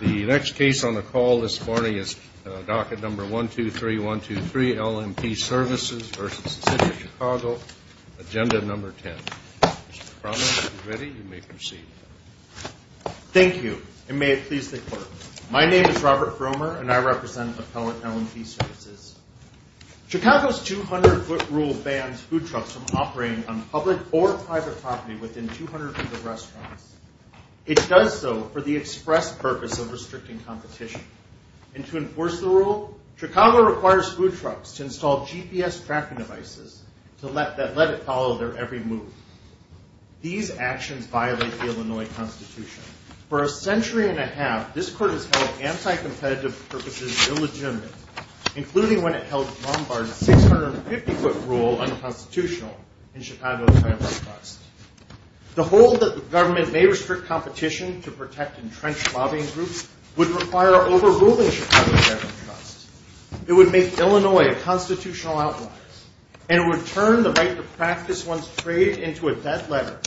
The next case on the call this morning is Docket Number 123123, LMP Services v. The City of Chicago, Agenda Number 10. Mr. Cromer, if you're ready, you may proceed. Thank you, and may it please the Court. My name is Robert Cromer, and I represent Appellate LMP Services. Chicago's 200-foot rule bans food trucks from operating on public or private property within 200 feet of restaurants. It does so for the express purpose of restricting competition. And to enforce the rule, Chicago requires food trucks to install GPS tracking devices that let it follow their every move. These actions violate the Illinois Constitution. For a century and a half, this Court has held anti-competitive purposes illegitimate, including when it held Lombard's 650-foot rule unconstitutional in Chicago's Federal Trust. The hold that the government may restrict competition to protect entrenched lobbying groups would require overruling Chicago's Federal Trust. It would make Illinois a constitutional outlier, and it would turn the right to practice one's trade into a death letter,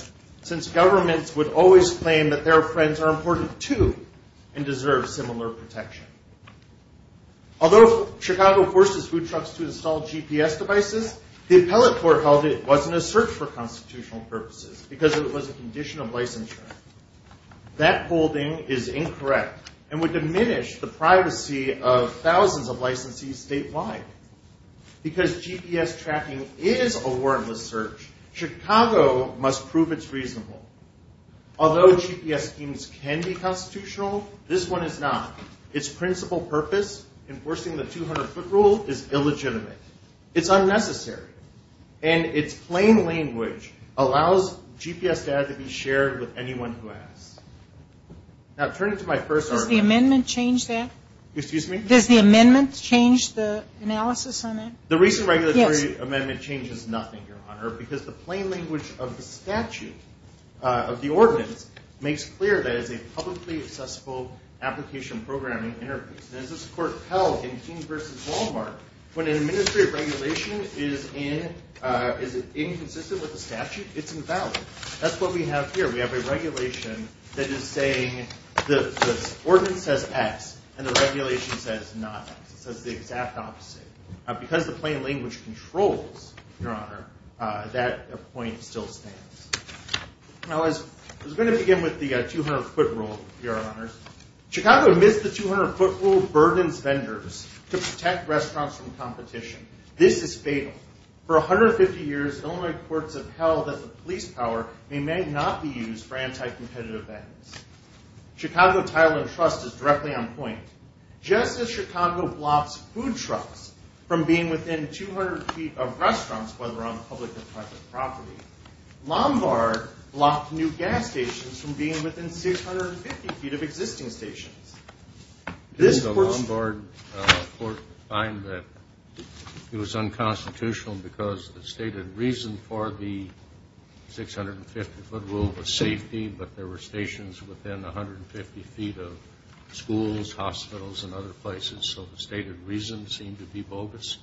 since governments would always claim that their friends are important, too, and deserve similar protection. Although Chicago forces food trucks to install GPS devices, the Appellate Court held it wasn't a search for constitutional purposes because it was a condition of licensure. That holding is incorrect and would diminish the privacy of thousands of licensees statewide. Because GPS tracking is a warrantless search, Chicago must prove it's reasonable. Although GPS schemes can be constitutional, this one is not. Its principal purpose, enforcing the 200-foot rule, is illegitimate. It's unnecessary, and its plain language allows GPS data to be shared with anyone who asks. Now, turning to my first argument... Does the amendment change that? Excuse me? Does the amendment change the analysis on that? The recent regulatory amendment changes nothing, Your Honor, because the plain language of the statute, of the ordinance, makes clear that it is a publicly accessible application programming interface. And as this Court held in King v. Walmart, when an administrative regulation is inconsistent with the statute, it's invalid. That's what we have here. We have a regulation that is saying the ordinance says X, and the regulation says not X. It says the exact opposite. Because the plain language controls, Your Honor, that point still stands. Now, I was going to begin with the 200-foot rule, Your Honors. Chicago admits the 200-foot rule burdens vendors to protect restaurants from competition. This is fatal. For 150 years, Illinois courts have held that the police power may not be used for anti-competitive ends. Chicago Title and Trust is directly on point. Just as Chicago blocks food trucks from being within 200 feet of restaurants, whether on public or private property, Lombard blocked new gas stations from being within 650 feet of existing stations. This Court... Didn't the Lombard Court find that it was unconstitutional because the stated reason for the 650-foot rule was safety, but there were stations within 150 feet of schools, hospitals, and other places. So the stated reason seemed to be bogus?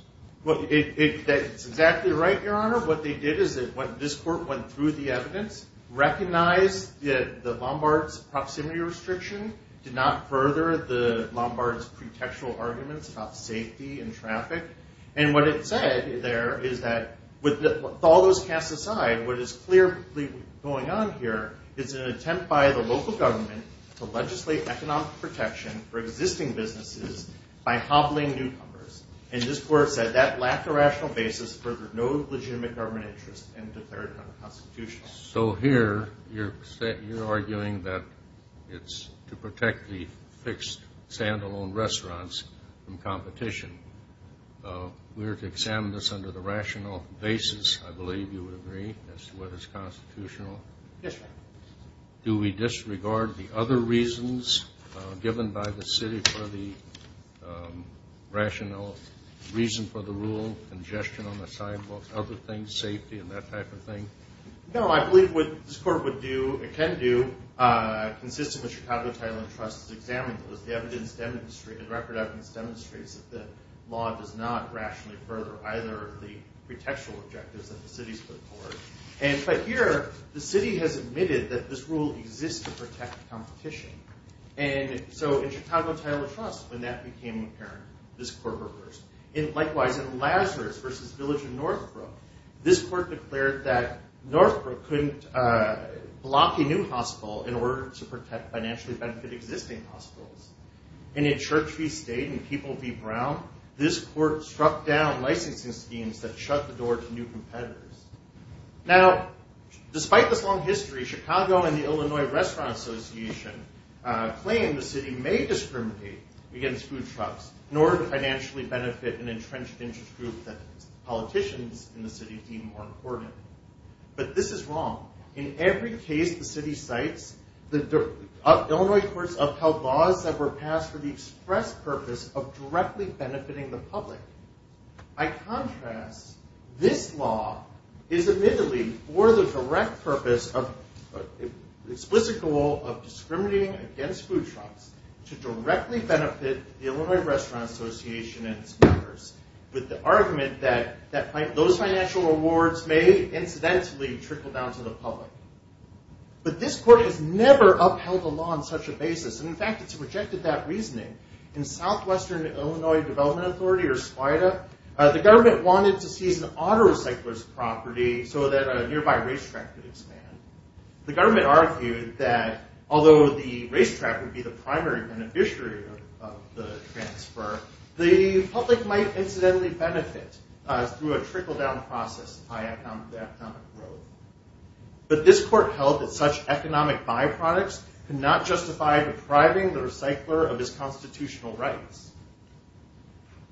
That's exactly right, Your Honor. What they did is this Court went through the evidence, recognized that Lombard's proximity restriction did not further Lombard's pretextual arguments about safety and traffic. And what it said there is that with all those cast aside, what is clearly going on here is an attempt by the local government to legislate economic protection for existing businesses by hobbling newcomers. And this Court said that lacked a rational basis, furthered no legitimate government interest, and declared it unconstitutional. So here you're arguing that it's to protect the fixed stand-alone restaurants from competition. We're to examine this under the rational basis, I believe you would agree, as to whether it's constitutional? Yes, Your Honor. Do we disregard the other reasons given by the city for the rational reason for the rule, congestion on the sidewalks, other things, safety, and that type of thing? No, I believe what this Court can do, consistent with Chicago Title and Trust's examinations, the record evidence demonstrates that the law does not rationally further either of the pretextual objectives that the city's put forward. But here, the city has admitted that this rule exists to protect competition. And so in Chicago Title and Trust, when that became apparent, this Court reversed. And likewise, in Lazarus v. Village of Northbrook, this Court declared that Northbrook couldn't block a new hospital in order to protect financially benefit existing hospitals. And in Church v. State and People v. Brown, this Court struck down licensing schemes that shut the door to new competitors. Now, despite this long history, Chicago and the Illinois Restaurant Association claim the city may discriminate against food trucks in order to financially benefit an entrenched interest group that politicians in the city deem more important. But this is wrong. In every case the city cites, the Illinois courts upheld laws that were passed for the express purpose of directly benefiting the public. By contrast, this law is admittedly for the direct purpose of, explicit goal of discriminating against food trucks to directly benefit the Illinois Restaurant Association and its members with the argument that those financial rewards may incidentally trickle down to the public. But this Court has never upheld a law on such a basis. In fact, it's rejected that reasoning. In Southwestern Illinois Development Authority, or SPIDA, the government wanted to seize an auto recycler's property so that a nearby racetrack could expand. The government argued that although the racetrack would be the primary beneficiary of the transfer, the public might incidentally benefit through a trickle-down process of high economic growth. But this Court held that such economic byproducts could not justify depriving the recycler of his constitutional rights.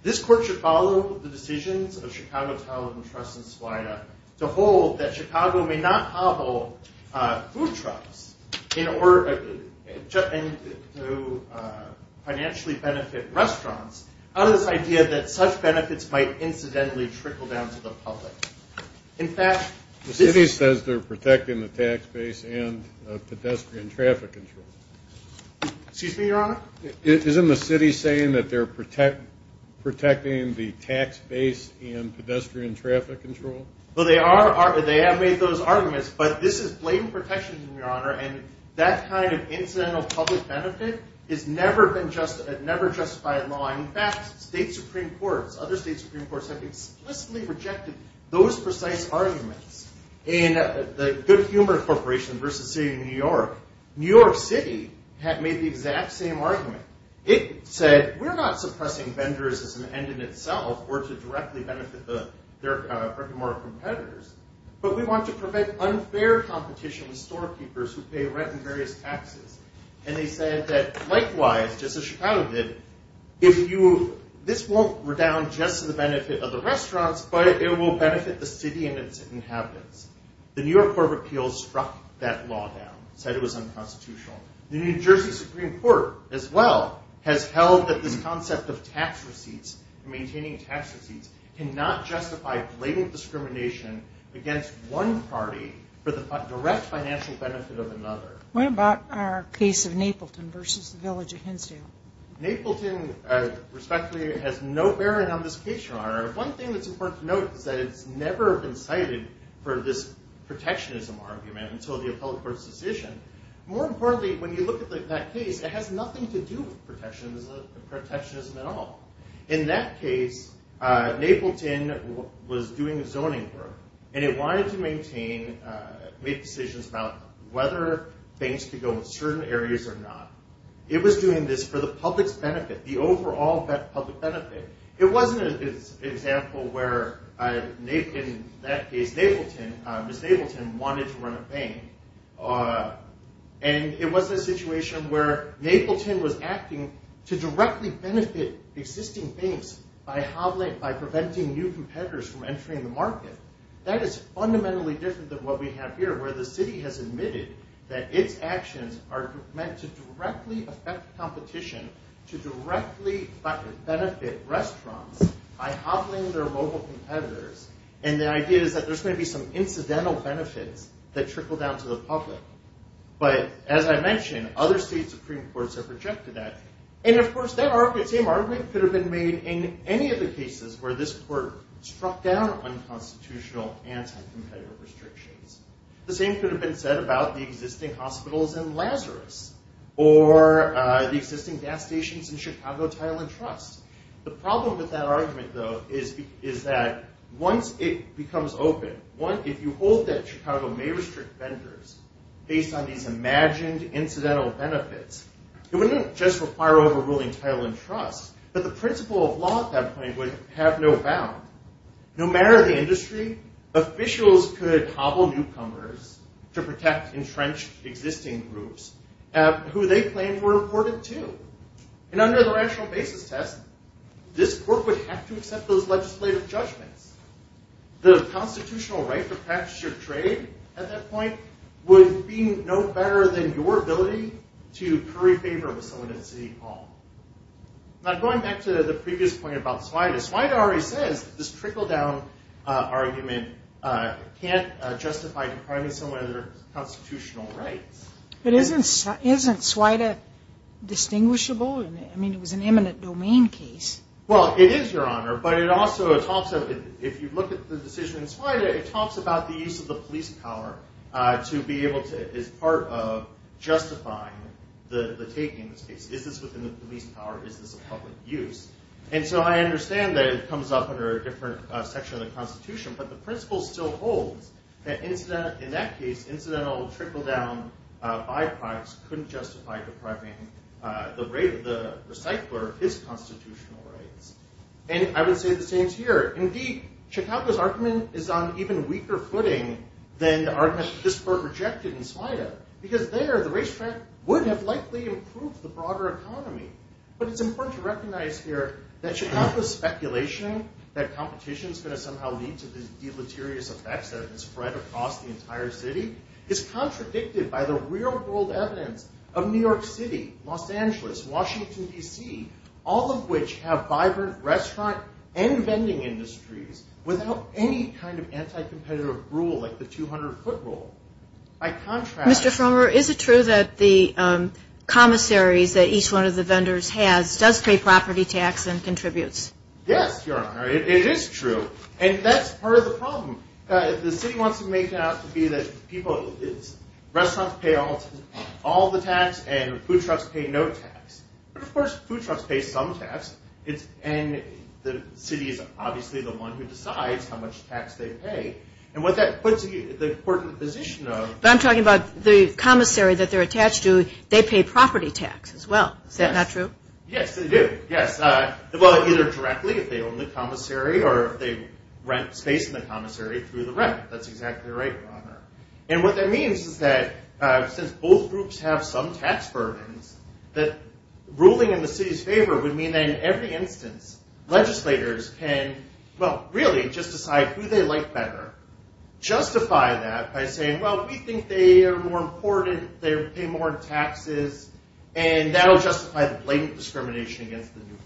This Court should follow the decisions of Chicago Talent and Trust and SPIDA to hold that Chicago may not hobble food trucks in order to financially benefit restaurants out of this idea that such benefits might incidentally trickle down to the public. The city says they're protecting the tax base and pedestrian traffic control. Excuse me, Your Honor? Isn't the city saying that they're protecting the tax base and pedestrian traffic control? Well, they have made those arguments, but this is blatant protectionism, Your Honor, and that kind of incidental public benefit has never been justified in law. In fact, state Supreme Courts, other state Supreme Courts, have explicitly rejected those precise arguments. In the Good Humor Corporation v. City of New York, New York City made the exact same argument. It said, we're not suppressing vendors as an end in itself or to directly benefit their economic competitors, but we want to prevent unfair competition with storekeepers who pay rent and various taxes. And they said that likewise, just as Chicago did, this won't redound just to the benefit of the restaurants, but it will benefit the city and its inhabitants. The New York Court of Appeals struck that law down, said it was unconstitutional. The New Jersey Supreme Court, as well, has held that this concept of maintaining tax receipts cannot justify blatant discrimination against one party for the direct financial benefit of another. What about our case of Napleton v. The Village of Hensdale? Napleton, respectfully, has no bearing on this case, Your Honor. One thing that's important to note is that it's never been cited for this protectionism argument until the appellate court's decision. More importantly, when you look at that case, it has nothing to do with protectionism at all. In that case, Napleton was doing zoning work, and it wanted to maintain, make decisions about whether banks could go in certain areas or not. It was doing this for the public's benefit, the overall public benefit. It wasn't an example where, in that case, Ms. Napleton wanted to run a bank. And it was a situation where Napleton was acting to directly benefit existing banks by preventing new competitors from entering the market. That is fundamentally different than what we have here, where the city has admitted that its actions are meant to directly affect competition, to directly benefit restaurants by hobbling their mobile competitors. And the idea is that there's going to be some incidental benefits that trickle down to the public. But, as I mentioned, other state Supreme Courts have rejected that. And, of course, that same argument could have been made in any of the cases where this court struck down unconstitutional anti-competitive restrictions. The same could have been said about the existing hospitals in Lazarus or the existing gas stations in Chicago, Tylen Trust. The problem with that argument, though, is that once it becomes open, if you hold that Chicago may restrict vendors based on these imagined incidental benefits, it wouldn't just require overruling Tylen Trust, but the principle of law at that point would have no bound. No matter the industry, officials could hobble newcomers to protect entrenched existing groups who they claimed were important, too. And under the rational basis test, this court would have to accept those legislative judgments. The constitutional right to practice your trade at that point would be no better than your ability to curry favor with someone at City Hall. Now, going back to the previous point about Swida, Swida already says that this trickle-down argument can't justify depriving someone of their constitutional rights. But isn't Swida distinguishable? I mean, it was an eminent domain case. Well, it is, Your Honor. But it also talks of, if you look at the decision in Swida, it talks about the use of the police power to be able to, as part of justifying the taking of this case. Is this within the police power? Is this a public use? And so I understand that it comes up under a different section of the Constitution, but the principle still holds that in that case, incidental trickle-down byproducts couldn't justify depriving the rate of the recycler of his constitutional rights. And I would say the same here. Indeed, Chicago's argument is on an even weaker footing than the argument that this were rejected in Swida, because there the racetrack would have likely improved the broader economy. But it's important to recognize here that Chicago's speculation that competition is going to somehow lead to these deleterious effects that have been spread across the entire city is contradicted by the real-world evidence of New York City, Los Angeles, Washington, D.C., all of which have vibrant restaurant and vending industries without any kind of anti-competitive rule like the 200-foot rule. Mr. Frommer, is it true that the commissaries that each one of the vendors has does pay property tax and contributes? Yes, Your Honor, it is true. And that's part of the problem. The city wants to make it out to be that restaurants pay all the tax and food trucks pay no tax. But, of course, food trucks pay some tax, and the city is obviously the one who decides how much tax they pay. And what that puts the court in the position of... But I'm talking about the commissary that they're attached to, they pay property tax as well. Is that not true? Yes, they do. Yes. Well, either directly if they own the commissary or if they rent space in the commissary through the rent. That's exactly right, Your Honor. And what that means is that since both groups have some tax burdens, that ruling in the city's favor would mean that in every instance legislators can, well, really just decide who they like better, justify that by saying, well, we think they are more important, they pay more in taxes, and that will justify the blatant discrimination against the newcomers.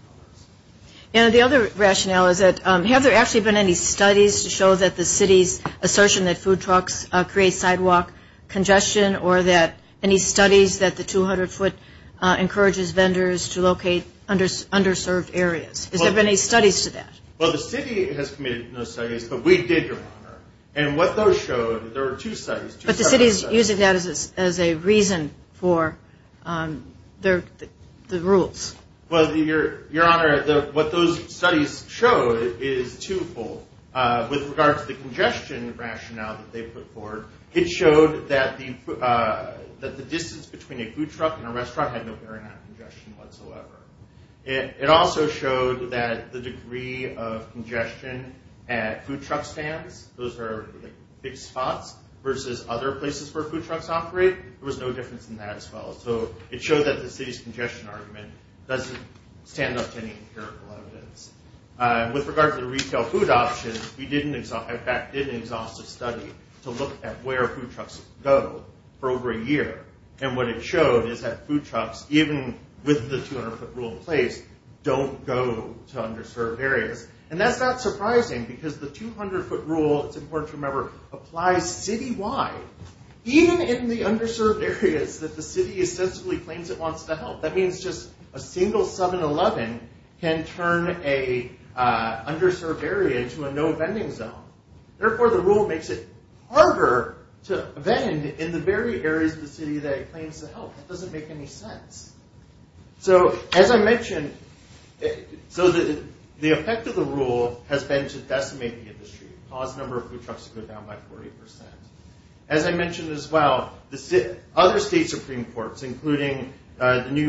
And the other rationale is that have there actually been any studies to show that the city's assertion that food trucks create sidewalk congestion or that any studies that the 200-foot encourages vendors to locate underserved areas? Is there any studies to that? Well, the city has committed no studies, but we did, Your Honor. And what those showed, there were two studies. But the city is using that as a reason for the rules. Well, Your Honor, what those studies showed is twofold. With regard to the congestion rationale that they put forward, it showed that the distance between a food truck and a restaurant had no bearing on congestion whatsoever. It also showed that the degree of congestion at food truck stands, those are big spots, versus other places where food trucks operate, there was no difference in that as well. So it showed that the city's congestion argument doesn't stand up to any empirical evidence. With regard to the retail food options, we did an exhaustive study to look at where food trucks go for over a year. And what it showed is that food trucks, even with the 200-foot rule in place, don't go to underserved areas. And that's not surprising because the 200-foot rule, it's important to remember, applies citywide, even in the underserved areas that the city ostensibly claims it wants to help. That means just a single 7-Eleven can turn an underserved area into a no-vending zone. Therefore, the rule makes it harder to vend in the very areas of the city that it claims to help. It doesn't make any sense. So, as I mentioned, the effect of the rule has been to decimate the industry, cause the number of food trucks to go down by 40%. As I mentioned as well, other state Supreme Courts, including the New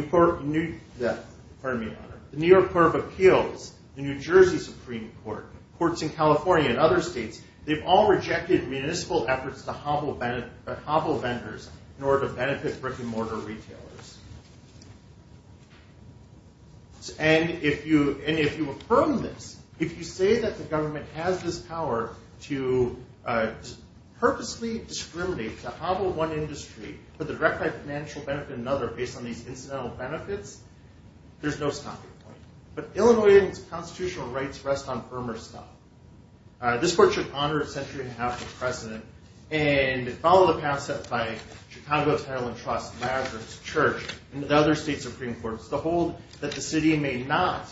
York Court of Appeals, the New Jersey Supreme Court, courts in California and other states, they've all rejected municipal efforts to hobble vendors in order to benefit brick-and-mortar retailers. And if you affirm this, if you say that the government has this power to purposely discriminate, to hobble one industry for the direct financial benefit of another based on these incidental benefits, there's no stopping it. But Illinoisans' constitutional rights rest on firmer stuff. This court should honor a century and a half of precedent and follow the path set by Chicago Asylum Trust, Lazarus Church, and the other state Supreme Courts to hold that the city may not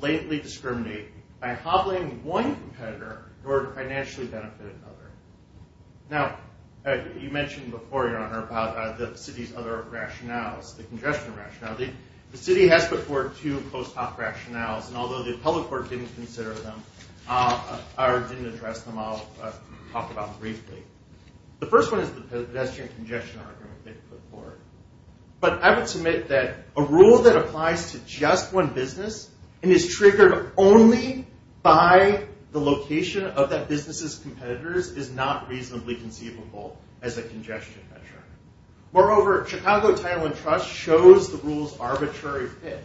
blatantly discriminate by hobbling one competitor in order to financially benefit another. Now, you mentioned before, Your Honor, about the city's other rationales, the congestion rationale. The city has before it two post-hoc rationales, and although the appellate court didn't consider them or didn't address them, I'll talk about them briefly. The first one is the pedestrian congestion argument they put forward. But I would submit that a rule that applies to just one business and is triggered only by the location of that business's competitors is not reasonably conceivable as a congestion measure. Moreover, Chicago Title and Trust shows the rule's arbitrary fit.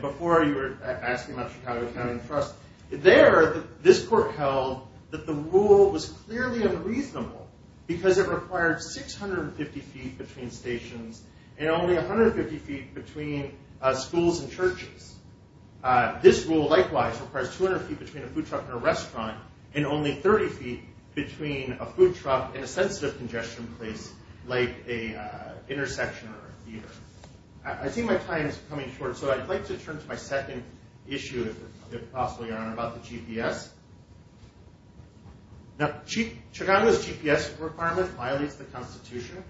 Before, you were asking about Chicago Title and Trust. There, this court held that the rule was clearly unreasonable because it required 650 feet between stations and only 150 feet between schools and churches. This rule, likewise, requires 200 feet between a food truck and a restaurant and only 30 feet between a food truck and a sensitive congestion place like an intersection or a theater. I think my time is coming short, so I'd like to turn to my second issue, if possible, Your Honor, about the GPS. Now, Chicago's GPS requirement violates the Constitution.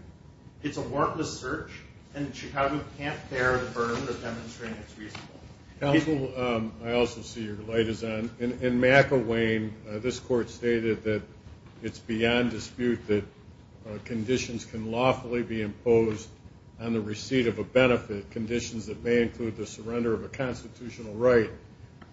It's a warrantless search, and Chicago can't bear the burden of demonstrating it's reasonable. Counsel, I also see your light is on. In McElwain, this court stated that it's beyond dispute that conditions can lawfully be imposed on the receipt of a benefit, conditions that may include the surrender of a constitutional right,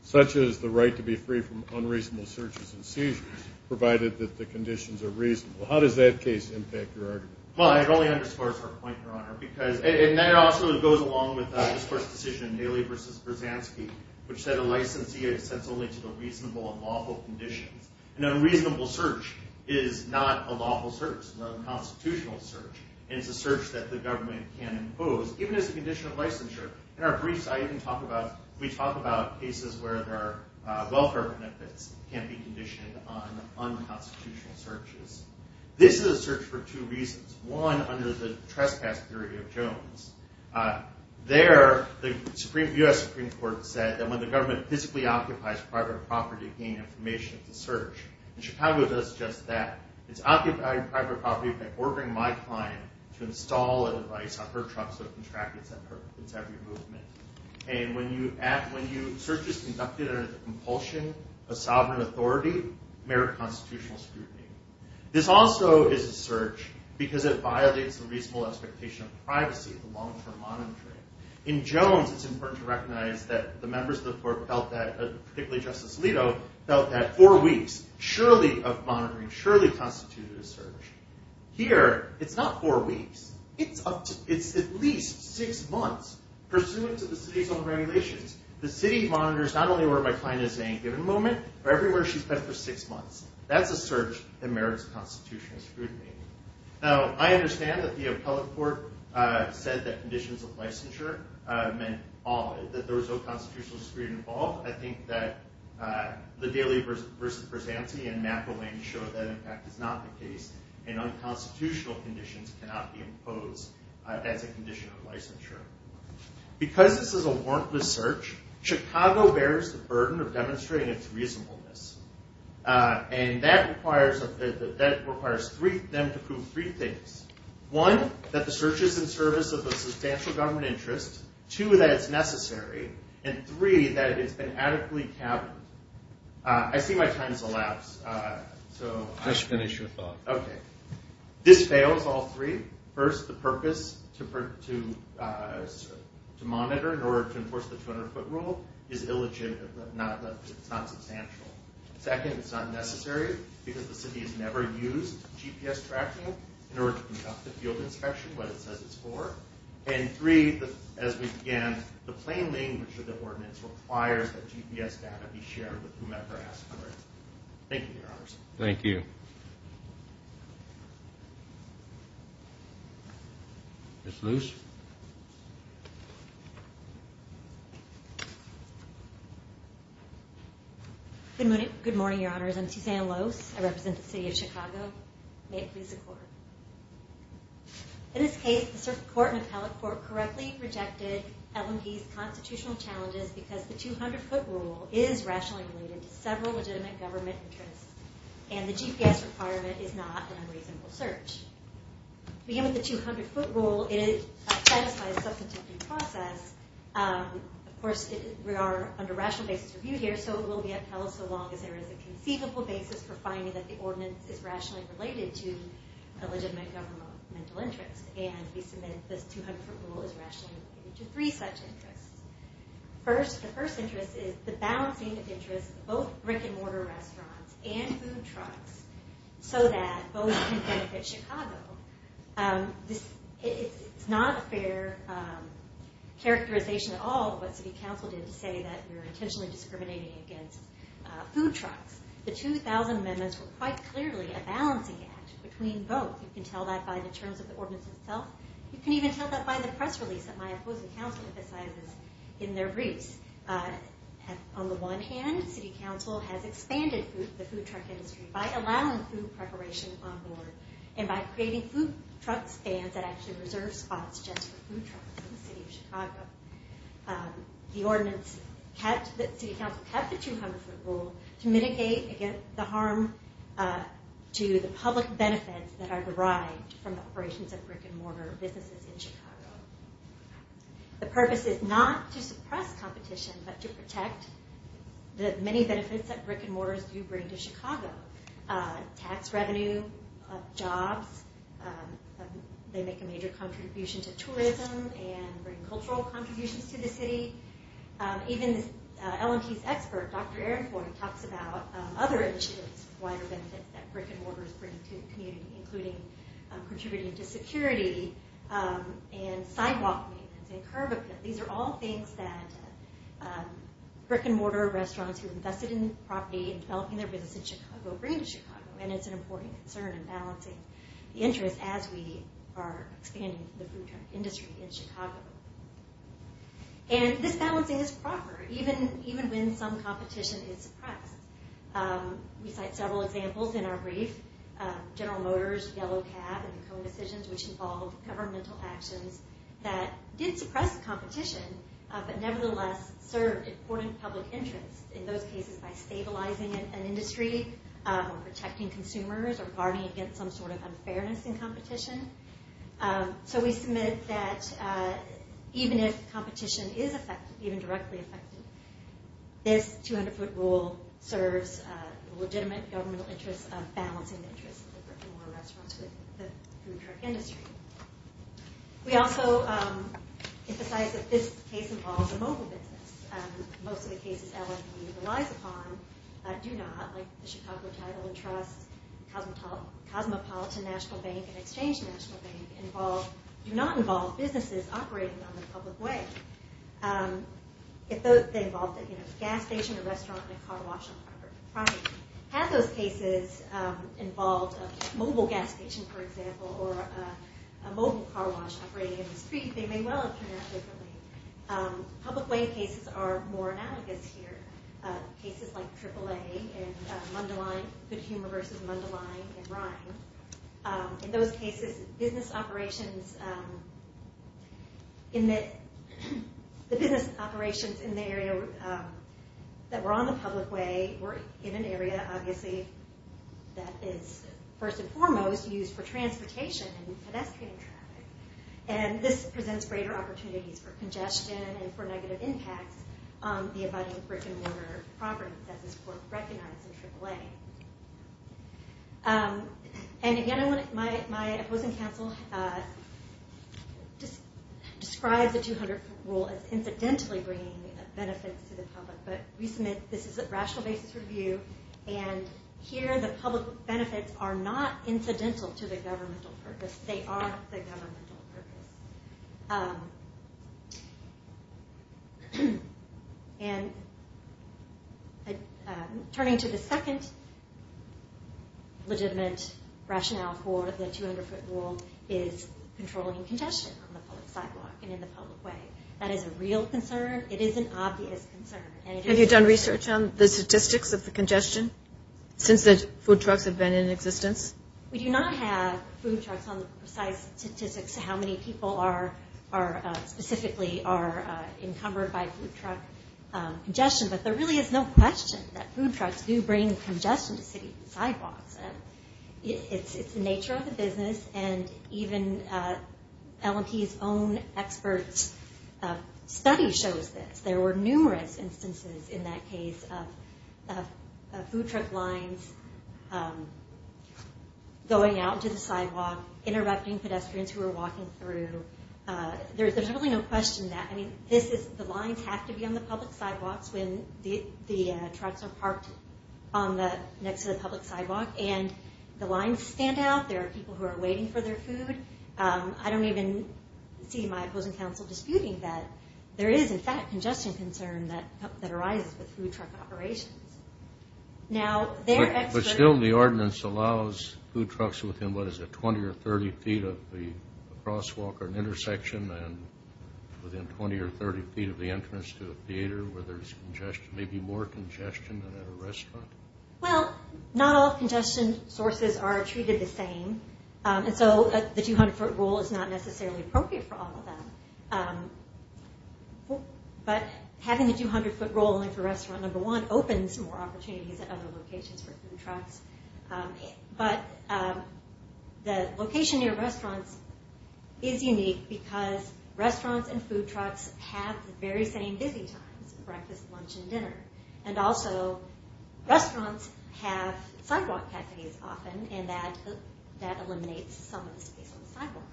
such as the right to be free from unreasonable searches and seizures, provided that the conditions are reasonable. How does that case impact your argument? Well, it only underscores our point, Your Honor, and that also goes along with this court's decision, Haley v. Brzezanski, which said a licensee is sent only to the reasonable and lawful conditions. An unreasonable search is not a lawful search. It's a constitutional search, and it's a search that the government can impose, even as a condition of licensure. In our briefs, we talk about cases where there are welfare benefits that can't be conditioned on unconstitutional searches. This is a search for two reasons. One, under the trespass theory of Jones. There, the U.S. Supreme Court said that when the government physically occupies private property to gain information, it's a search. In Chicago, it does just that. It's occupying private property by ordering my client to install a device on her truck so it can track its every movement. And when a search is conducted under the compulsion of sovereign authority, merit constitutional scrutiny. This also is a search because it violates the reasonable expectation of privacy, the long-term monitoring. In Jones, it's important to recognize that the members of the court felt that, particularly Justice Alito, felt that four weeks surely of monitoring surely constituted a search. Here, it's not four weeks. It's at least six months, pursuant to the city's own regulations. The city monitors not only where my client is at any given moment, but everywhere she's been for six months. That's a search that merits constitutional scrutiny. Now, I understand that the appellate court said that conditions of licensure meant that there was no constitutional scrutiny involved. I think that the Daily Versa Prisanti and McElwain show that, in fact, is not the case, and unconstitutional conditions cannot be imposed as a condition of licensure. Because this is a warrantless search, Chicago bears the burden of demonstrating its reasonableness. And that requires them to prove three things. One, that the search is in service of a substantial government interest. Two, that it's necessary. And three, that it's been adequately caverned. I see my time has elapsed. Just finish your thought. Okay. This fails, all three. First, the purpose to monitor in order to enforce the 200-foot rule is illegitimate. It's not substantial. Second, it's not necessary because the city has never used GPS tracking in order to conduct a field inspection when it says it's four. And three, as we began, the plain language of the ordinance requires that GPS data be shared with whomever asked for it. Thank you, Your Honors. Thank you. Ms. Luce. Good morning, Your Honors. I'm Susanna Luce. I represent the city of Chicago. May it please the Court. In this case, the Circuit Court and Appellate Court correctly rejected Ellen Hayes' constitutional challenges because the 200-foot rule is rationally related to several legitimate government interests, and the GPS requirement is not an unreasonable search. To begin with, the 200-foot rule, it satisfies a substantive due process. Of course, we are under rational basis of view here, so it will be upheld so long as there is a conceivable basis for finding that the ordinance is rationally related to a legitimate governmental interest. And we submit this 200-foot rule is rationally related to three such interests. The first interest is the balancing of interests of both brick-and-mortar restaurants and food trucks so that both can benefit Chicago. It's not a fair characterization at all what city council did to say that we were intentionally discriminating against food trucks. The 2000 amendments were quite clearly a balancing act between both. You can tell that by the terms of the ordinance itself. You can even tell that by the press release that my opposing council emphasizes in their briefs. On the one hand, city council has expanded the food truck industry by allowing food preparation on board and by creating food truck stands that actually reserve spots just for food trucks in the city of Chicago. The city council kept the 200-foot rule to mitigate the harm to the public benefits that are derived from the operations of brick-and-mortar businesses in Chicago. The purpose is not to suppress competition, but to protect the many benefits that brick-and-mortars do bring to Chicago. Tax revenue, jobs, they make a major contribution to tourism and bring cultural contributions to the city. Even LMT's expert, Dr. Aaron Floyd, talks about other initiatives, wider benefits that brick-and-mortars bring to the community, including contributing to security and sidewalk maintenance and curb appeal. These are all things that brick-and-mortar restaurants who are invested in property and developing their business in Chicago bring to Chicago, and it's an important concern in balancing the interest as we are expanding the food truck industry in Chicago. And this balancing is proper, even when some competition is suppressed. We cite several examples in our brief, General Motors, Yellow Cab, and co-decisions which involve governmental actions that did suppress competition, but nevertheless served important public interest in those cases by stabilizing an industry or protecting consumers or guarding against some sort of unfairness in competition. So we submit that even if competition is affected, even directly affected, this 200-foot rule serves a legitimate governmental interest of balancing the interests of the brick-and-mortar restaurants with the food truck industry. We also emphasize that this case involves a mobile business. Most of the cases LMT relies upon do not, like the Chicago Title and Trust, Cosmopolitan National Bank, and Exchange National Bank, do not involve businesses operating on the public way. If they involved a gas station, a restaurant, and a car wash on Harvard property. Had those cases involved a mobile gas station, for example, or a mobile car wash operating in the street, they may well have turned out differently. Public way cases are more analogous here. Cases like AAA and Mundelein, Good Humor versus Mundelein and Rhyme. In those cases, business operations in the area that were on the public way were in an area, obviously, that is first and foremost used for transportation and pedestrian traffic. And this presents greater opportunities for congestion and for negative impacts on the abiding brick-and-mortar property that this court recognized in AAA. And again, my opposing counsel describes the 200 rule as incidentally bringing benefits to the public. But we submit this is a rational basis review, and here the public benefits are not incidental to the governmental purpose. They are the governmental purpose. And turning to the second legitimate rationale for the 200-foot rule is controlling congestion on the public sidewalk and in the public way. That is a real concern. It is an obvious concern. Have you done research on the statistics of the congestion since the food trucks have been in existence? We do not have food trucks on the precise statistics of how many people specifically are encumbered by food truck congestion, but there really is no question that food trucks do bring congestion to city sidewalks. It's the nature of the business, and even L&P's own expert study shows this. There were numerous instances in that case of food truck lines going out to the sidewalk, interrupting pedestrians who were walking through. There's really no question that. The lines have to be on the public sidewalks when the trucks are parked next to the public sidewalk, and the lines stand out. There are people who are waiting for their food. I don't even see my opposing counsel disputing that there is, in fact, congestion concern that arises with food truck operations. But still, the ordinance allows food trucks within, what is it, 20 or 30 feet of the crosswalk or an intersection, and within 20 or 30 feet of the entrance to a theater where there's congestion, maybe more congestion than at a restaurant? Well, not all congestion sources are treated the same, and so the 200-foot rule is not necessarily appropriate for all of them. But having the 200-foot rule only for restaurant number one opens more opportunities at other locations for food trucks. But the location near restaurants is unique because restaurants and food trucks have the very same busy times, breakfast, lunch, and dinner. And also, restaurants have sidewalk cafes often, and that eliminates some of the space on the sidewalk.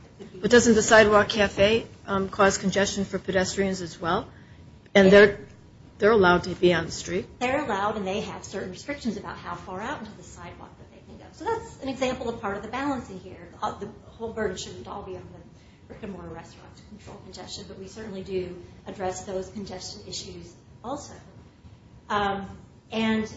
But doesn't the sidewalk cafe cause congestion for pedestrians as well? And they're allowed to be on the street. They're allowed, and they have certain restrictions about how far out into the sidewalk that they can go. So that's an example of part of the balancing here. The whole burden shouldn't all be on the brick-and-mortar restaurants to control congestion, but we certainly do address those congestion issues also. And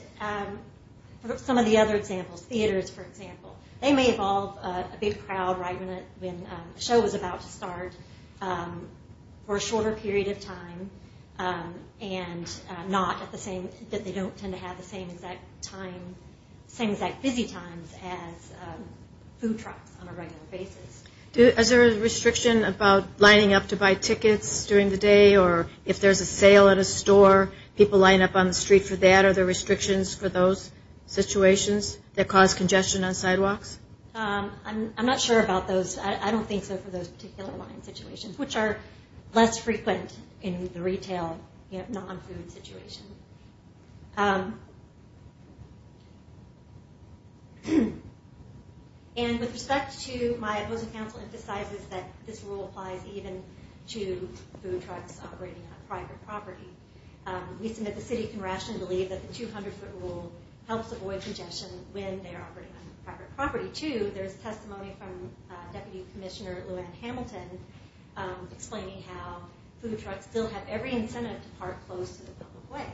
some of the other examples, theaters, for example, they may involve a big crowd right when the show is about to start for a shorter period of time, and not that they don't tend to have the same exact busy times as food trucks on a regular basis. Is there a restriction about lining up to buy tickets during the day, or if there's a sale at a store, people line up on the street for that? Are there restrictions for those situations that cause congestion on sidewalks? I'm not sure about those. I don't think so for those particular line situations, which are less frequent in the retail non-food situation. And with respect to my opposing counsel emphasizes that this rule applies even to food trucks operating on private property. We submit the city can rationally believe that the 200-foot rule helps avoid congestion when they're operating on private property, too. There's testimony from Deputy Commissioner Lou Anne Hamilton explaining how food trucks still have every incentive to park close to the public way.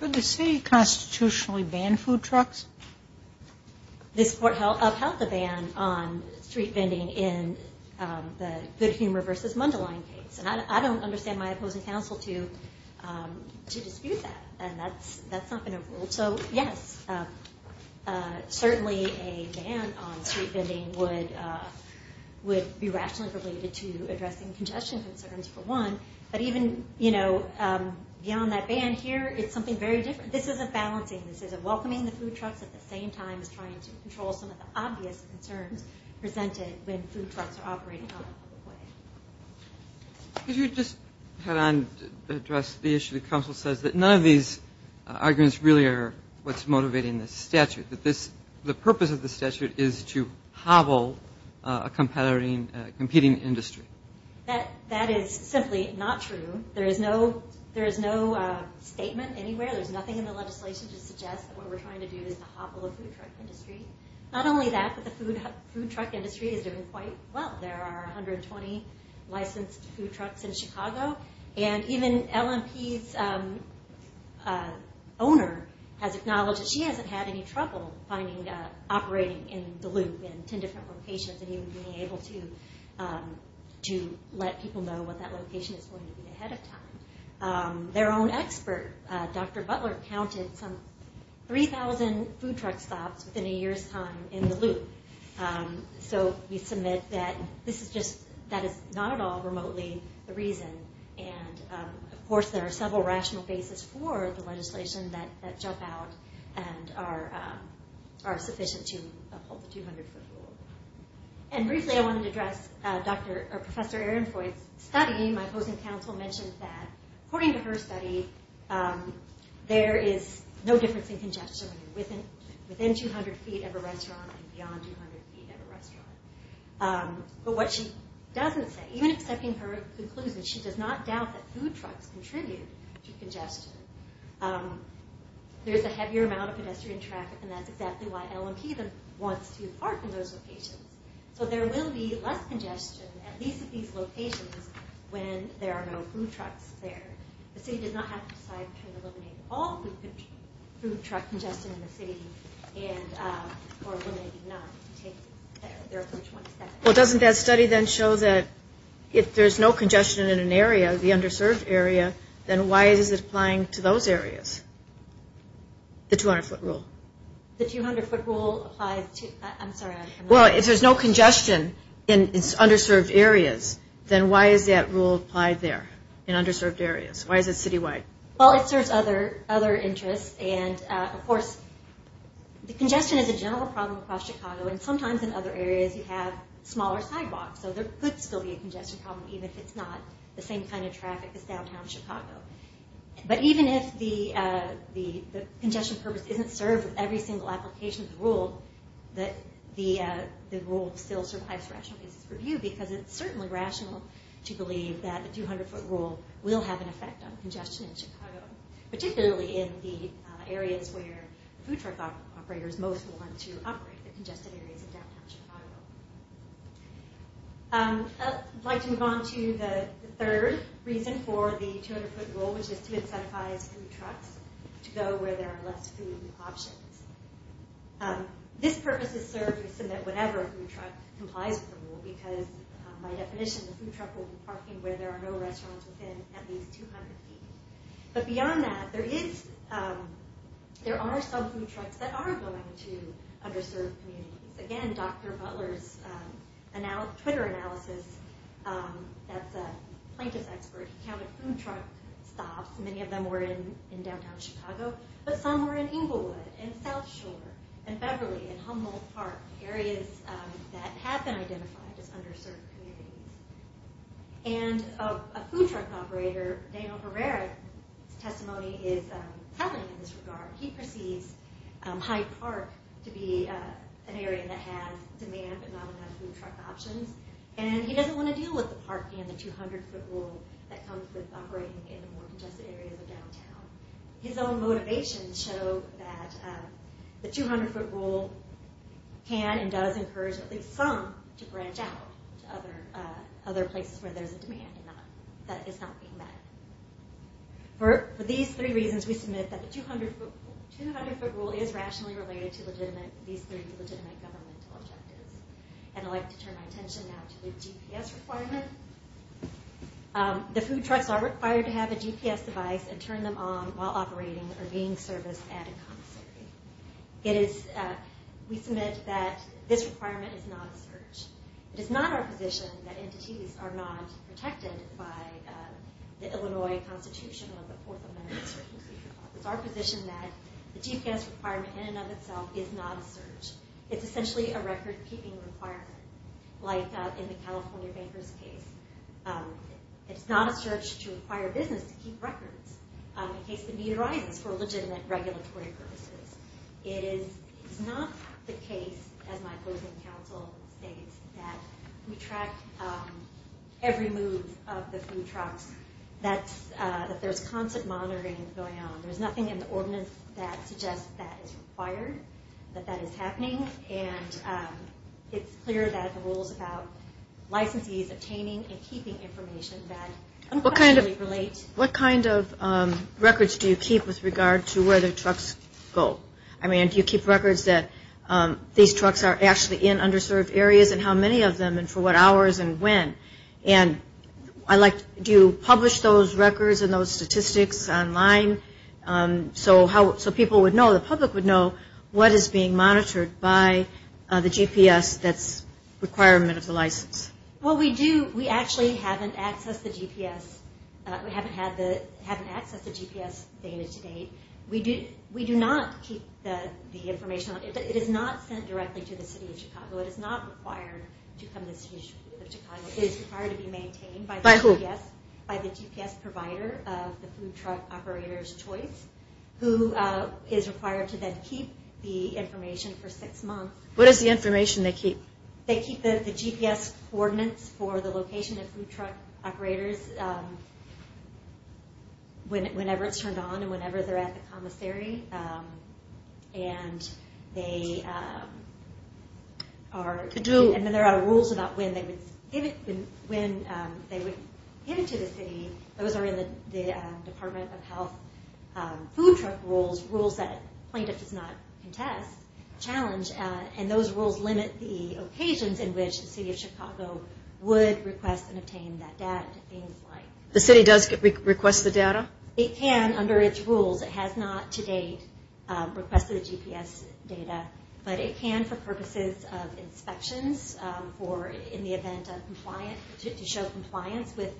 Could the city constitutionally ban food trucks? This court upheld the ban on street vending in the Good Humor v. Mundelein case, and I don't understand my opposing counsel to dispute that, and that's not been a rule. So, yes, certainly a ban on street vending would be rationally related to addressing congestion concerns, for one, but even beyond that ban here, it's something very different. This isn't balancing. This isn't welcoming the food trucks at the same time as trying to control some of the obvious concerns presented when food trucks are operating on the public way. Could you just address the issue that counsel says, that none of these arguments really are what's motivating this statute, that the purpose of the statute is to hobble a competing industry? That is simply not true. There is no statement anywhere. There's nothing in the legislation to suggest that what we're trying to do is to hobble a food truck industry. Not only that, but the food truck industry is doing quite well. There are 120 licensed food trucks in Chicago, and even LMP's owner has acknowledged that she hasn't had any trouble operating in the loop in 10 different locations and even being able to let people know what that location is going to be ahead of time. Their own expert, Dr. Butler, counted some 3,000 food truck stops within a year's time in the loop. So we submit that that is not at all remotely the reason. Of course, there are several rational bases for the legislation that jump out and are sufficient to uphold the 200-foot rule. Briefly, I wanted to address Professor Ehrenfeucht's study. My opposing counsel mentioned that, according to her study, there is no difference in congestion when you're within 200 feet of a restaurant and beyond 200 feet of a restaurant. But what she doesn't say, even accepting her conclusions, she does not doubt that food trucks contribute to congestion. There's a heavier amount of pedestrian traffic, and that's exactly why LMP wants to park in those locations. So there will be less congestion at least at these locations when there are no food trucks there. The city does not have to decide to eliminate all food truck congestion in the city or eliminate none. Well, doesn't that study then show that if there's no congestion in an area, the underserved area, then why is it applying to those areas? The 200-foot rule. The 200-foot rule applies to – I'm sorry. Well, if there's no congestion in underserved areas, then why is that rule applied there in underserved areas? Why is it citywide? Well, it serves other interests. And, of course, the congestion is a general problem across Chicago, and sometimes in other areas you have smaller sidewalks. So there could still be a congestion problem, even if it's not the same kind of traffic as downtown Chicago. The rule still survives rational basis review because it's certainly rational to believe that the 200-foot rule will have an effect on congestion in Chicago, particularly in the areas where food truck operators most want to operate, the congested areas of downtown Chicago. I'd like to move on to the third reason for the 200-foot rule, which is to incentivize food trucks to go where there are less food options. This purpose is served to submit whatever food truck complies with the rule because, by definition, the food truck will be parking where there are no restaurants within at least 200 feet. But beyond that, there are some food trucks that are going to underserved communities. Again, Dr. Butler's Twitter analysis, that's a plaintiff's expert, he counted food truck stops. Many of them were in downtown Chicago, but some were in Inglewood, and South Shore, and Beverly, and Humboldt Park, areas that have been identified as underserved communities. And a food truck operator, Daniel Herrera's testimony is telling in this regard. He perceives Hyde Park to be an area that has demand but not enough food truck options, and he doesn't want to deal with the park and the 200-foot rule that comes with operating in the more congested areas of downtown. His own motivations show that the 200-foot rule can and does encourage at least some to branch out to other places where there's a demand that is not being met. For these three reasons, we submit that the 200-foot rule is rationally related to these three legitimate governmental objectives. And I'd like to turn my attention now to the GPS requirement. The food trucks are required to have a GPS device and turn them on while operating or being serviced at a commissary. We submit that this requirement is not a search. It is not our position that entities are not protected by the Illinois Constitution or the Fourth Amendment. It's our position that the GPS requirement in and of itself is not a search. It's essentially a record-keeping requirement, like in the California Banker's case. It's not a search to require business to keep records in case the need arises for legitimate regulatory purposes. It is not the case, as my opposing counsel states, that we track every move of the food trucks, that there's constant monitoring going on. There's nothing in the ordinance that suggests that is required, that that is happening. And it's clear that the rule is about licensees obtaining and keeping information that unquestionably relates. What kind of records do you keep with regard to where the trucks go? I mean, do you keep records that these trucks are actually in underserved areas and how many of them and for what hours and when? And do you publish those records and those statistics online so people would know, the public would know, what is being monitored by the GPS that's a requirement of the license? Well, we do. We actually haven't accessed the GPS data to date. We do not keep the information. It is not sent directly to the City of Chicago. It is not required to come to the City of Chicago. It is required to be maintained by the GPS provider of the food truck operator's choice, who is required to then keep the information for six months. What is the information they keep? They keep the GPS coordinates for the location of food truck operators whenever it's turned on and whenever they're at the commissary. And then there are rules about when they would get into the city. Those are in the Department of Health food truck rules, rules that plaintiff does not contest, challenge, and those rules limit the occasions in which the City of Chicago would request and obtain that data, things like that. The city does request the data? It can under its rules. It has not to date requested the GPS data, but it can for purposes of inspections or in the event of compliance, to show compliance with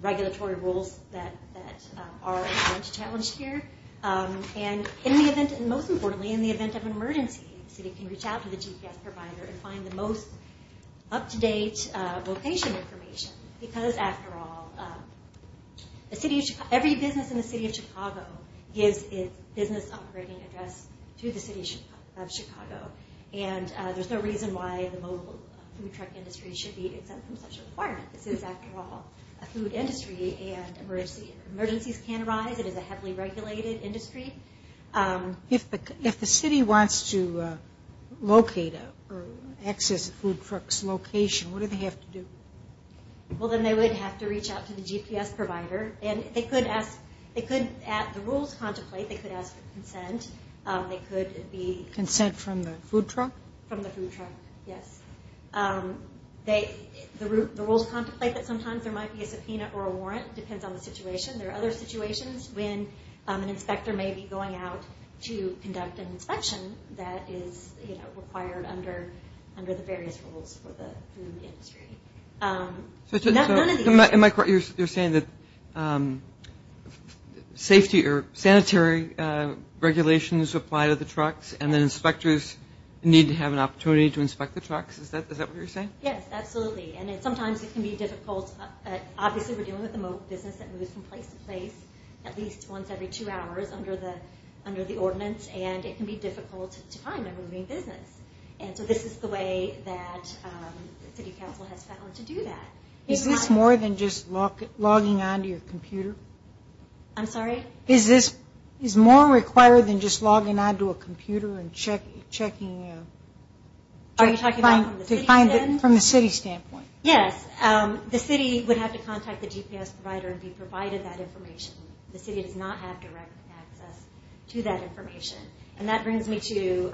regulatory rules that are challenged here. And most importantly, in the event of an emergency, the city can reach out to the GPS provider and find the most up-to-date location information, because after all, every business in the City of Chicago gives its business operating address to the City of Chicago, and there's no reason why the mobile food truck industry should be exempt from such a requirement. This is, after all, a food industry, and emergencies can arise. It is a heavily regulated industry. If the city wants to locate or access a food truck's location, what do they have to do? Well, then they would have to reach out to the GPS provider, and they could, at the rules contemplate, they could ask for consent. Consent from the food truck? From the food truck, yes. The rules contemplate that sometimes there might be a subpoena or a warrant. It depends on the situation. There are other situations when an inspector may be going out to conduct an inspection that is required under the various rules for the food industry. In my court, you're saying that safety or sanitary regulations apply to the trucks, and that inspectors need to have an opportunity to inspect the trucks. Is that what you're saying? Yes, absolutely. And sometimes it can be difficult. Obviously, we're dealing with a business that moves from place to place at least once every two hours under the ordinance, and it can be difficult to find a moving business. And so this is the way that the city council has found to do that. Is this more than just logging on to your computer? I'm sorry? Is this more required than just logging on to a computer and checking? Are you talking about from the city standpoint? Yes. The city would have to contact the GPS provider and be provided that information. The city does not have direct access to that information. And that brings me to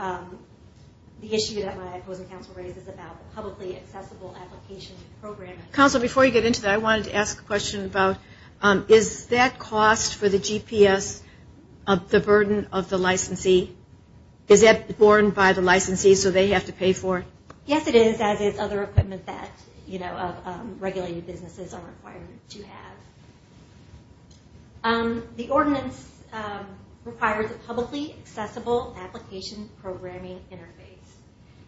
the issue that my opposing counsel raises about the publicly accessible application program. Counsel, before you get into that, I wanted to ask a question about, is that cost for the GPS the burden of the licensee? Is that borne by the licensee so they have to pay for it? Yes, it is, as is other equipment that regulated businesses are required to have. The ordinance requires a publicly accessible application programming interface.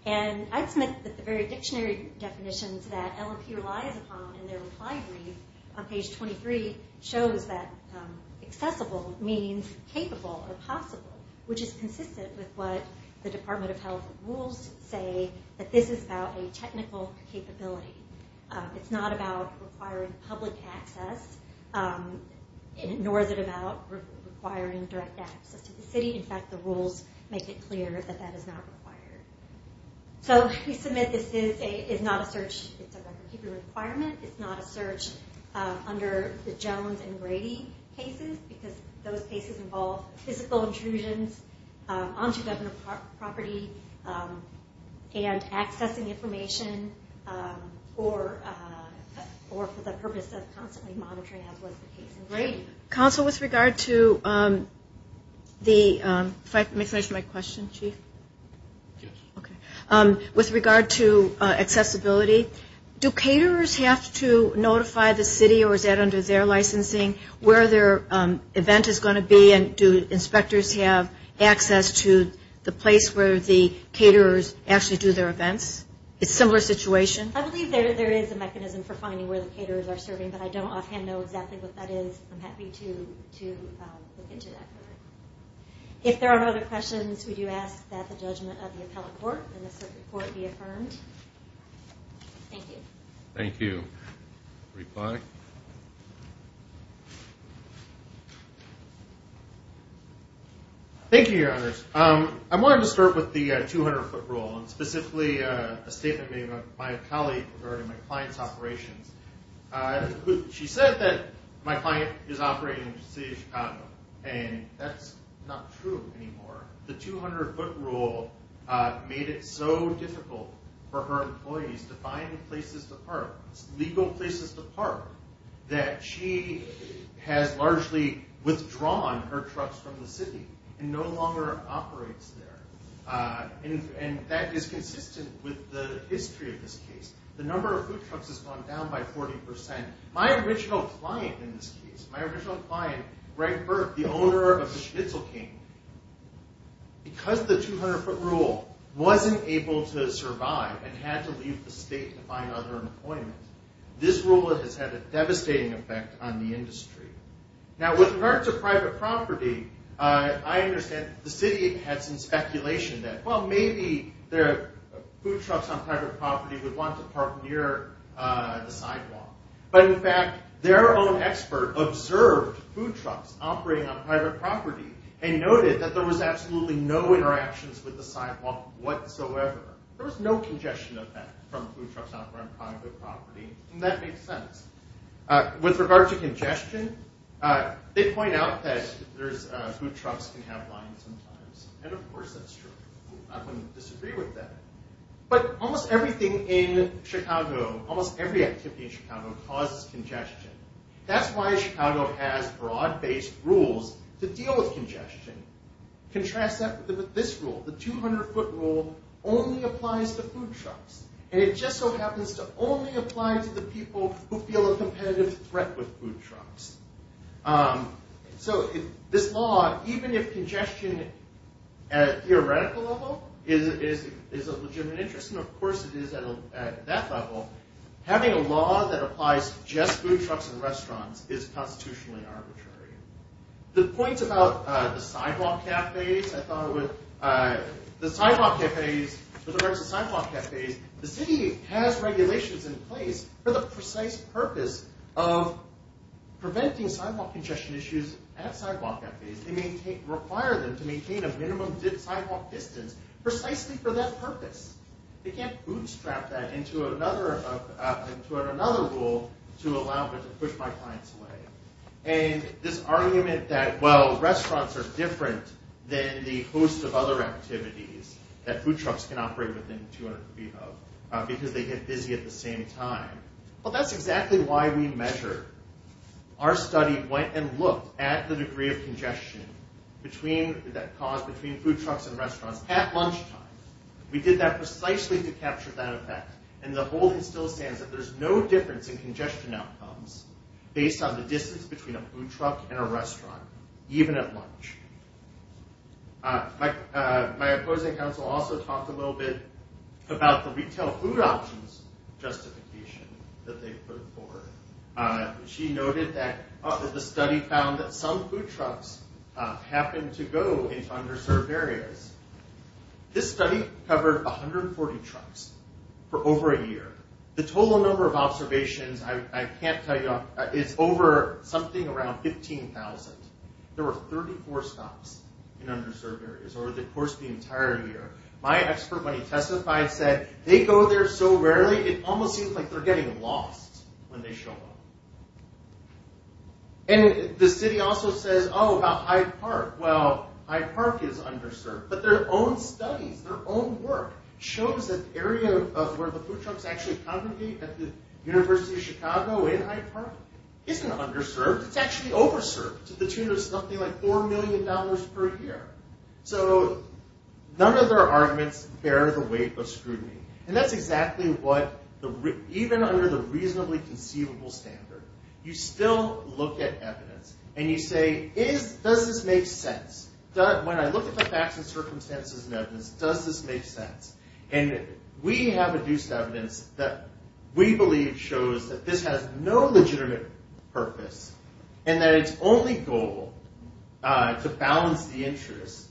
And I'd submit that the very dictionary definitions that LMP relies upon in their reply brief on page 23 shows that accessible means capable or possible, which is consistent with what the Department of Health rules say, that this is about a technical capability. It's not about requiring public access, nor is it about requiring direct access to the city. In fact, the rules make it clear that that is not required. So we submit this is not a search. It's a record-keeping requirement. It's not a search under the Jones and Grady cases because those cases involve physical intrusions onto government property and accessing information for the purpose of constantly monitoring, as was the case in Grady. Counsel, with regard to accessibility, do caterers have to notify the city or is that under their licensing where their event is going to be? And do inspectors have access to the place where the caterers actually do their events? It's a similar situation? I believe there is a mechanism for finding where the caterers are serving, but I don't offhand know exactly what that is. I'm happy to look into that further. If there are no other questions, would you ask that the judgment of the appellate court and the circuit court be affirmed? Thank you. Thank you. Reply. Thank you, Your Honors. I wanted to start with the 200-foot rule, and specifically a statement made by a colleague regarding my client's operations. She said that my client is operating in the city of Chicago, and that's not true anymore. The 200-foot rule made it so difficult for her employees to find places to park, legal places to park, that she has largely withdrawn her trucks from the city and no longer operates there. And that is consistent with the history of this case. The number of food trucks has gone down by 40%. My original client in this case, my original client, Greg Burke, the owner of the Schnitzel King, because the 200-foot rule wasn't able to survive and had to leave the state to find other employment, this rule has had a devastating effect on the industry. Now, with regards to private property, I understand the city had some speculation that, well, maybe food trucks on private property would want to park near the sidewalk. But, in fact, their own expert observed food trucks operating on private property and noted that there was absolutely no interactions with the sidewalk whatsoever. There was no congestion of that from food trucks operating on private property. And that makes sense. With regards to congestion, they point out that food trucks can have lines sometimes. And, of course, that's true. I wouldn't disagree with that. But almost everything in Chicago, almost every activity in Chicago causes congestion. That's why Chicago has broad-based rules to deal with congestion. Contrast that with this rule. The 200-foot rule only applies to food trucks. And it just so happens to only apply to the people who feel a competitive threat with food trucks. So, this law, even if congestion at a theoretical level is a legitimate interest, and, of course, it is at that level, having a law that applies to just food trucks and restaurants is constitutionally arbitrary. The point about the sidewalk cafes, I thought it would, the sidewalk cafes, with regards to sidewalk cafes, the city has regulations in place for the precise purpose of preventing sidewalk congestion issues at sidewalk cafes. They require them to maintain a minimum sidewalk distance precisely for that purpose. They can't bootstrap that into another rule to allow them to push my clients away. And this argument that, well, restaurants are different than the host of other activities that food trucks can operate within 200 feet of because they get busy at the same time. Well, that's exactly why we measure. Our study went and looked at the degree of congestion that caused between food trucks and restaurants at lunchtime. We did that precisely to capture that effect. And the whole thing still stands that there's no difference in congestion outcomes based on the distance between a food truck and a restaurant, even at lunch. My opposing counsel also talked a little bit about the retail food options justification that they put forward. She noted that the study found that some food trucks happened to go into underserved areas. This study covered 140 trucks for over a year. The total number of observations, I can't tell you, is over something around 15,000. There were 34 stops in underserved areas over the course of the entire year. My expert, when he testified, said, they go there so rarely, it almost seems like they're getting lost when they show up. And the city also says, oh, about Hyde Park. Well, Hyde Park is underserved. But their own studies, their own work, shows that the area where the food trucks actually congregate at the University of Chicago in Hyde Park isn't underserved, it's actually over-served to the tune of something like $4 million per year. So none of their arguments bear the weight of scrutiny. And that's exactly what, even under the reasonably conceivable standard, you still look at evidence and you say, does this make sense? When I look at the facts and circumstances and evidence, does this make sense? And we have adduced evidence that we believe shows that this has no legitimate purpose and that its only goal is to balance the interests,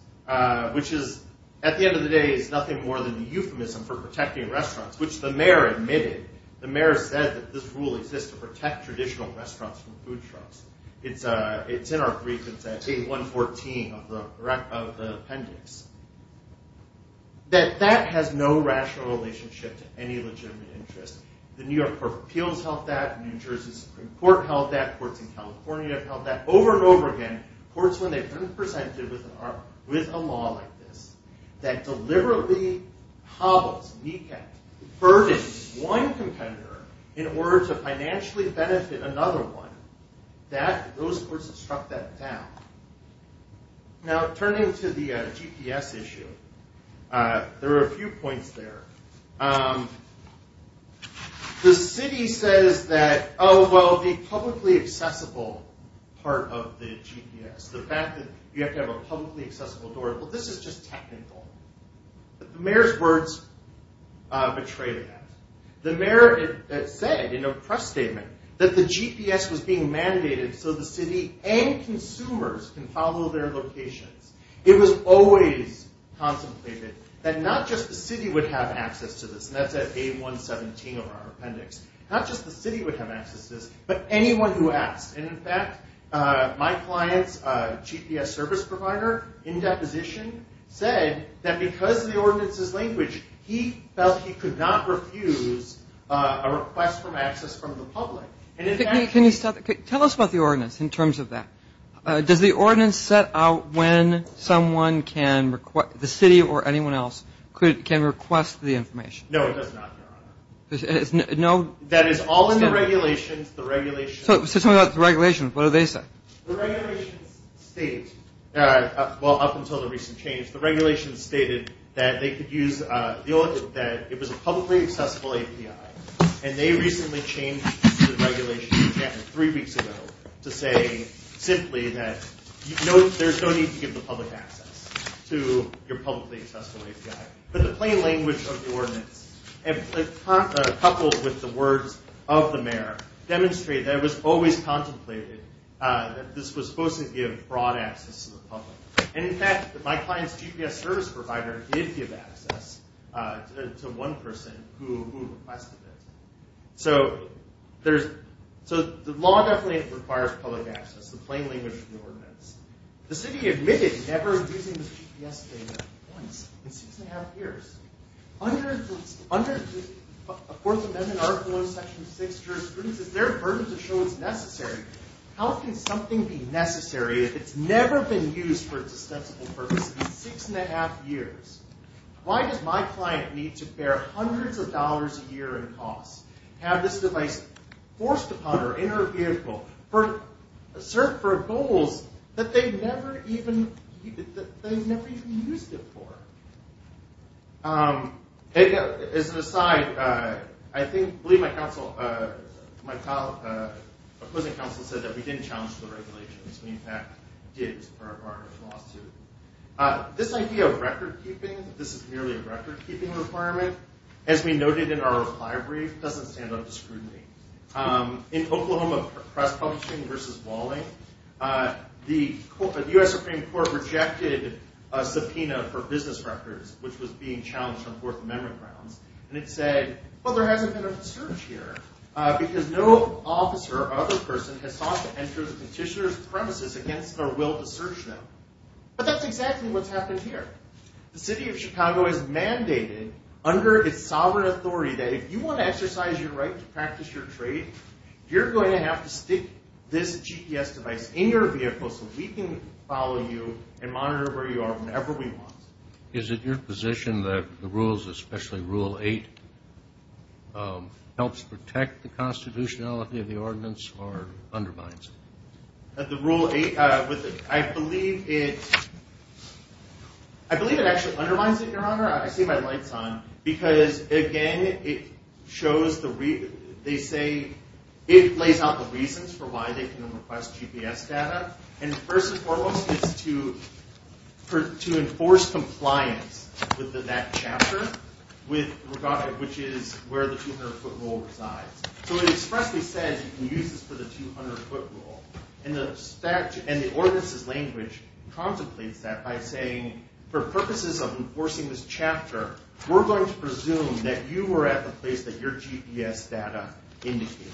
which is, at the end of the day, is nothing more than the euphemism for protecting restaurants, which the mayor admitted. The mayor said that this rule exists to protect traditional restaurants from food trucks. It's in our brief. It's at page 114 of the appendix. That that has no rational relationship to any legitimate interest. The New York Court of Appeals held that. New Jersey Supreme Court held that. Courts in California have held that over and over again. Courts, when they've been presented with a law like this, that deliberately hobbles, kneecaps, burdens one competitor in order to financially benefit another one, those courts have struck that down. Now, turning to the GPS issue, there are a few points there. The city says that, oh, well, the publicly accessible part of the GPS, the fact that you have to have a publicly accessible door, well, this is just technical. The mayor's words betray that. The mayor said in a press statement that the GPS was being mandated so the city and consumers can follow their locations. It was always contemplated that not just the city would have access to this, and that's at page 117 of our appendix, not just the city would have access to this, but anyone who asked. And, in fact, my client's GPS service provider, in deposition, said that because of the ordinance's language, he felt he could not refuse a request for access from the public. And, in fact... Can you tell us about the ordinance in terms of that? Does the ordinance set out when someone can request, the city or anyone else, can request the information? No, it does not, Your Honor. That is all in the regulations. So tell me about the regulations. What do they say? The regulations state, well, up until the recent change, the regulations stated that they could use... that it was a publicly accessible API, and they recently changed the regulations again, three weeks ago, to say simply that there's no need to give the public access to your publicly accessible API. But the plain language of the ordinance, coupled with the words of the mayor, demonstrate that it was always contemplated that this was supposed to give broad access to the public. And, in fact, my client's GPS service provider did give access to one person who requested it. So there's... requires public access, the plain language of the ordinance. The city admitted never using the GPS data once in six and a half years. Under the Fourth Amendment article in Section 6, jurisprudence, is there a burden to show it's necessary? How can something be necessary if it's never been used for its ostensible purpose in six and a half years? Why does my client need to bear hundreds of dollars a year in costs, have this device forced upon her in her vehicle, served for goals that they never even used it for? As an aside, I believe my opposing counsel said that we didn't challenge the regulations. We, in fact, did for our partnership lawsuit. This idea of recordkeeping, this is merely a recordkeeping requirement, as we noted in our reply brief, doesn't stand up to scrutiny. In Oklahoma Press Publishing v. Walling, the U.S. Supreme Court rejected a subpoena for business records, which was being challenged on Fourth Amendment grounds, and it said, well, there hasn't been a search here because no officer or other person has sought to enter the petitioner's premises against their will to search them. But that's exactly what's happened here. The city of Chicago is mandated under its sovereign authority that if you want to exercise your right to practice your trade, you're going to have to stick this GPS device in your vehicle so we can follow you and monitor where you are whenever we want. Is it your position that the rules, especially Rule 8, helps protect the constitutionality of the ordinance or undermines it? The Rule 8, I believe it... I believe it actually undermines it, Your Honor. I see my lights on. Because, again, they say it lays out the reasons for why they can request GPS data. And first and foremost, it's to enforce compliance with that chapter, which is where the 200-foot rule resides. So it expressly says you can use this for the 200-foot rule. And the ordinance's language for purposes of enforcing this chapter, we're going to presume that you were at the place that your GPS data indicated.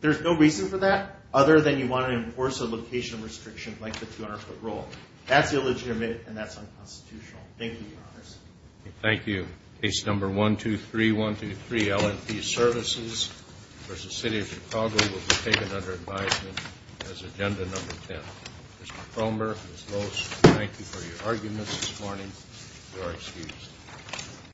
There's no reason for that other than you want to enforce a location restriction like the 200-foot rule. That's illegitimate, and that's unconstitutional. Thank you, Your Honors. Thank you. Case number 123123, LMP Services v. City of Chicago will be taken under advisement as Agenda Number 10. Mr. Cromer, Ms. Loos, thank you for your arguments this morning. You are excused.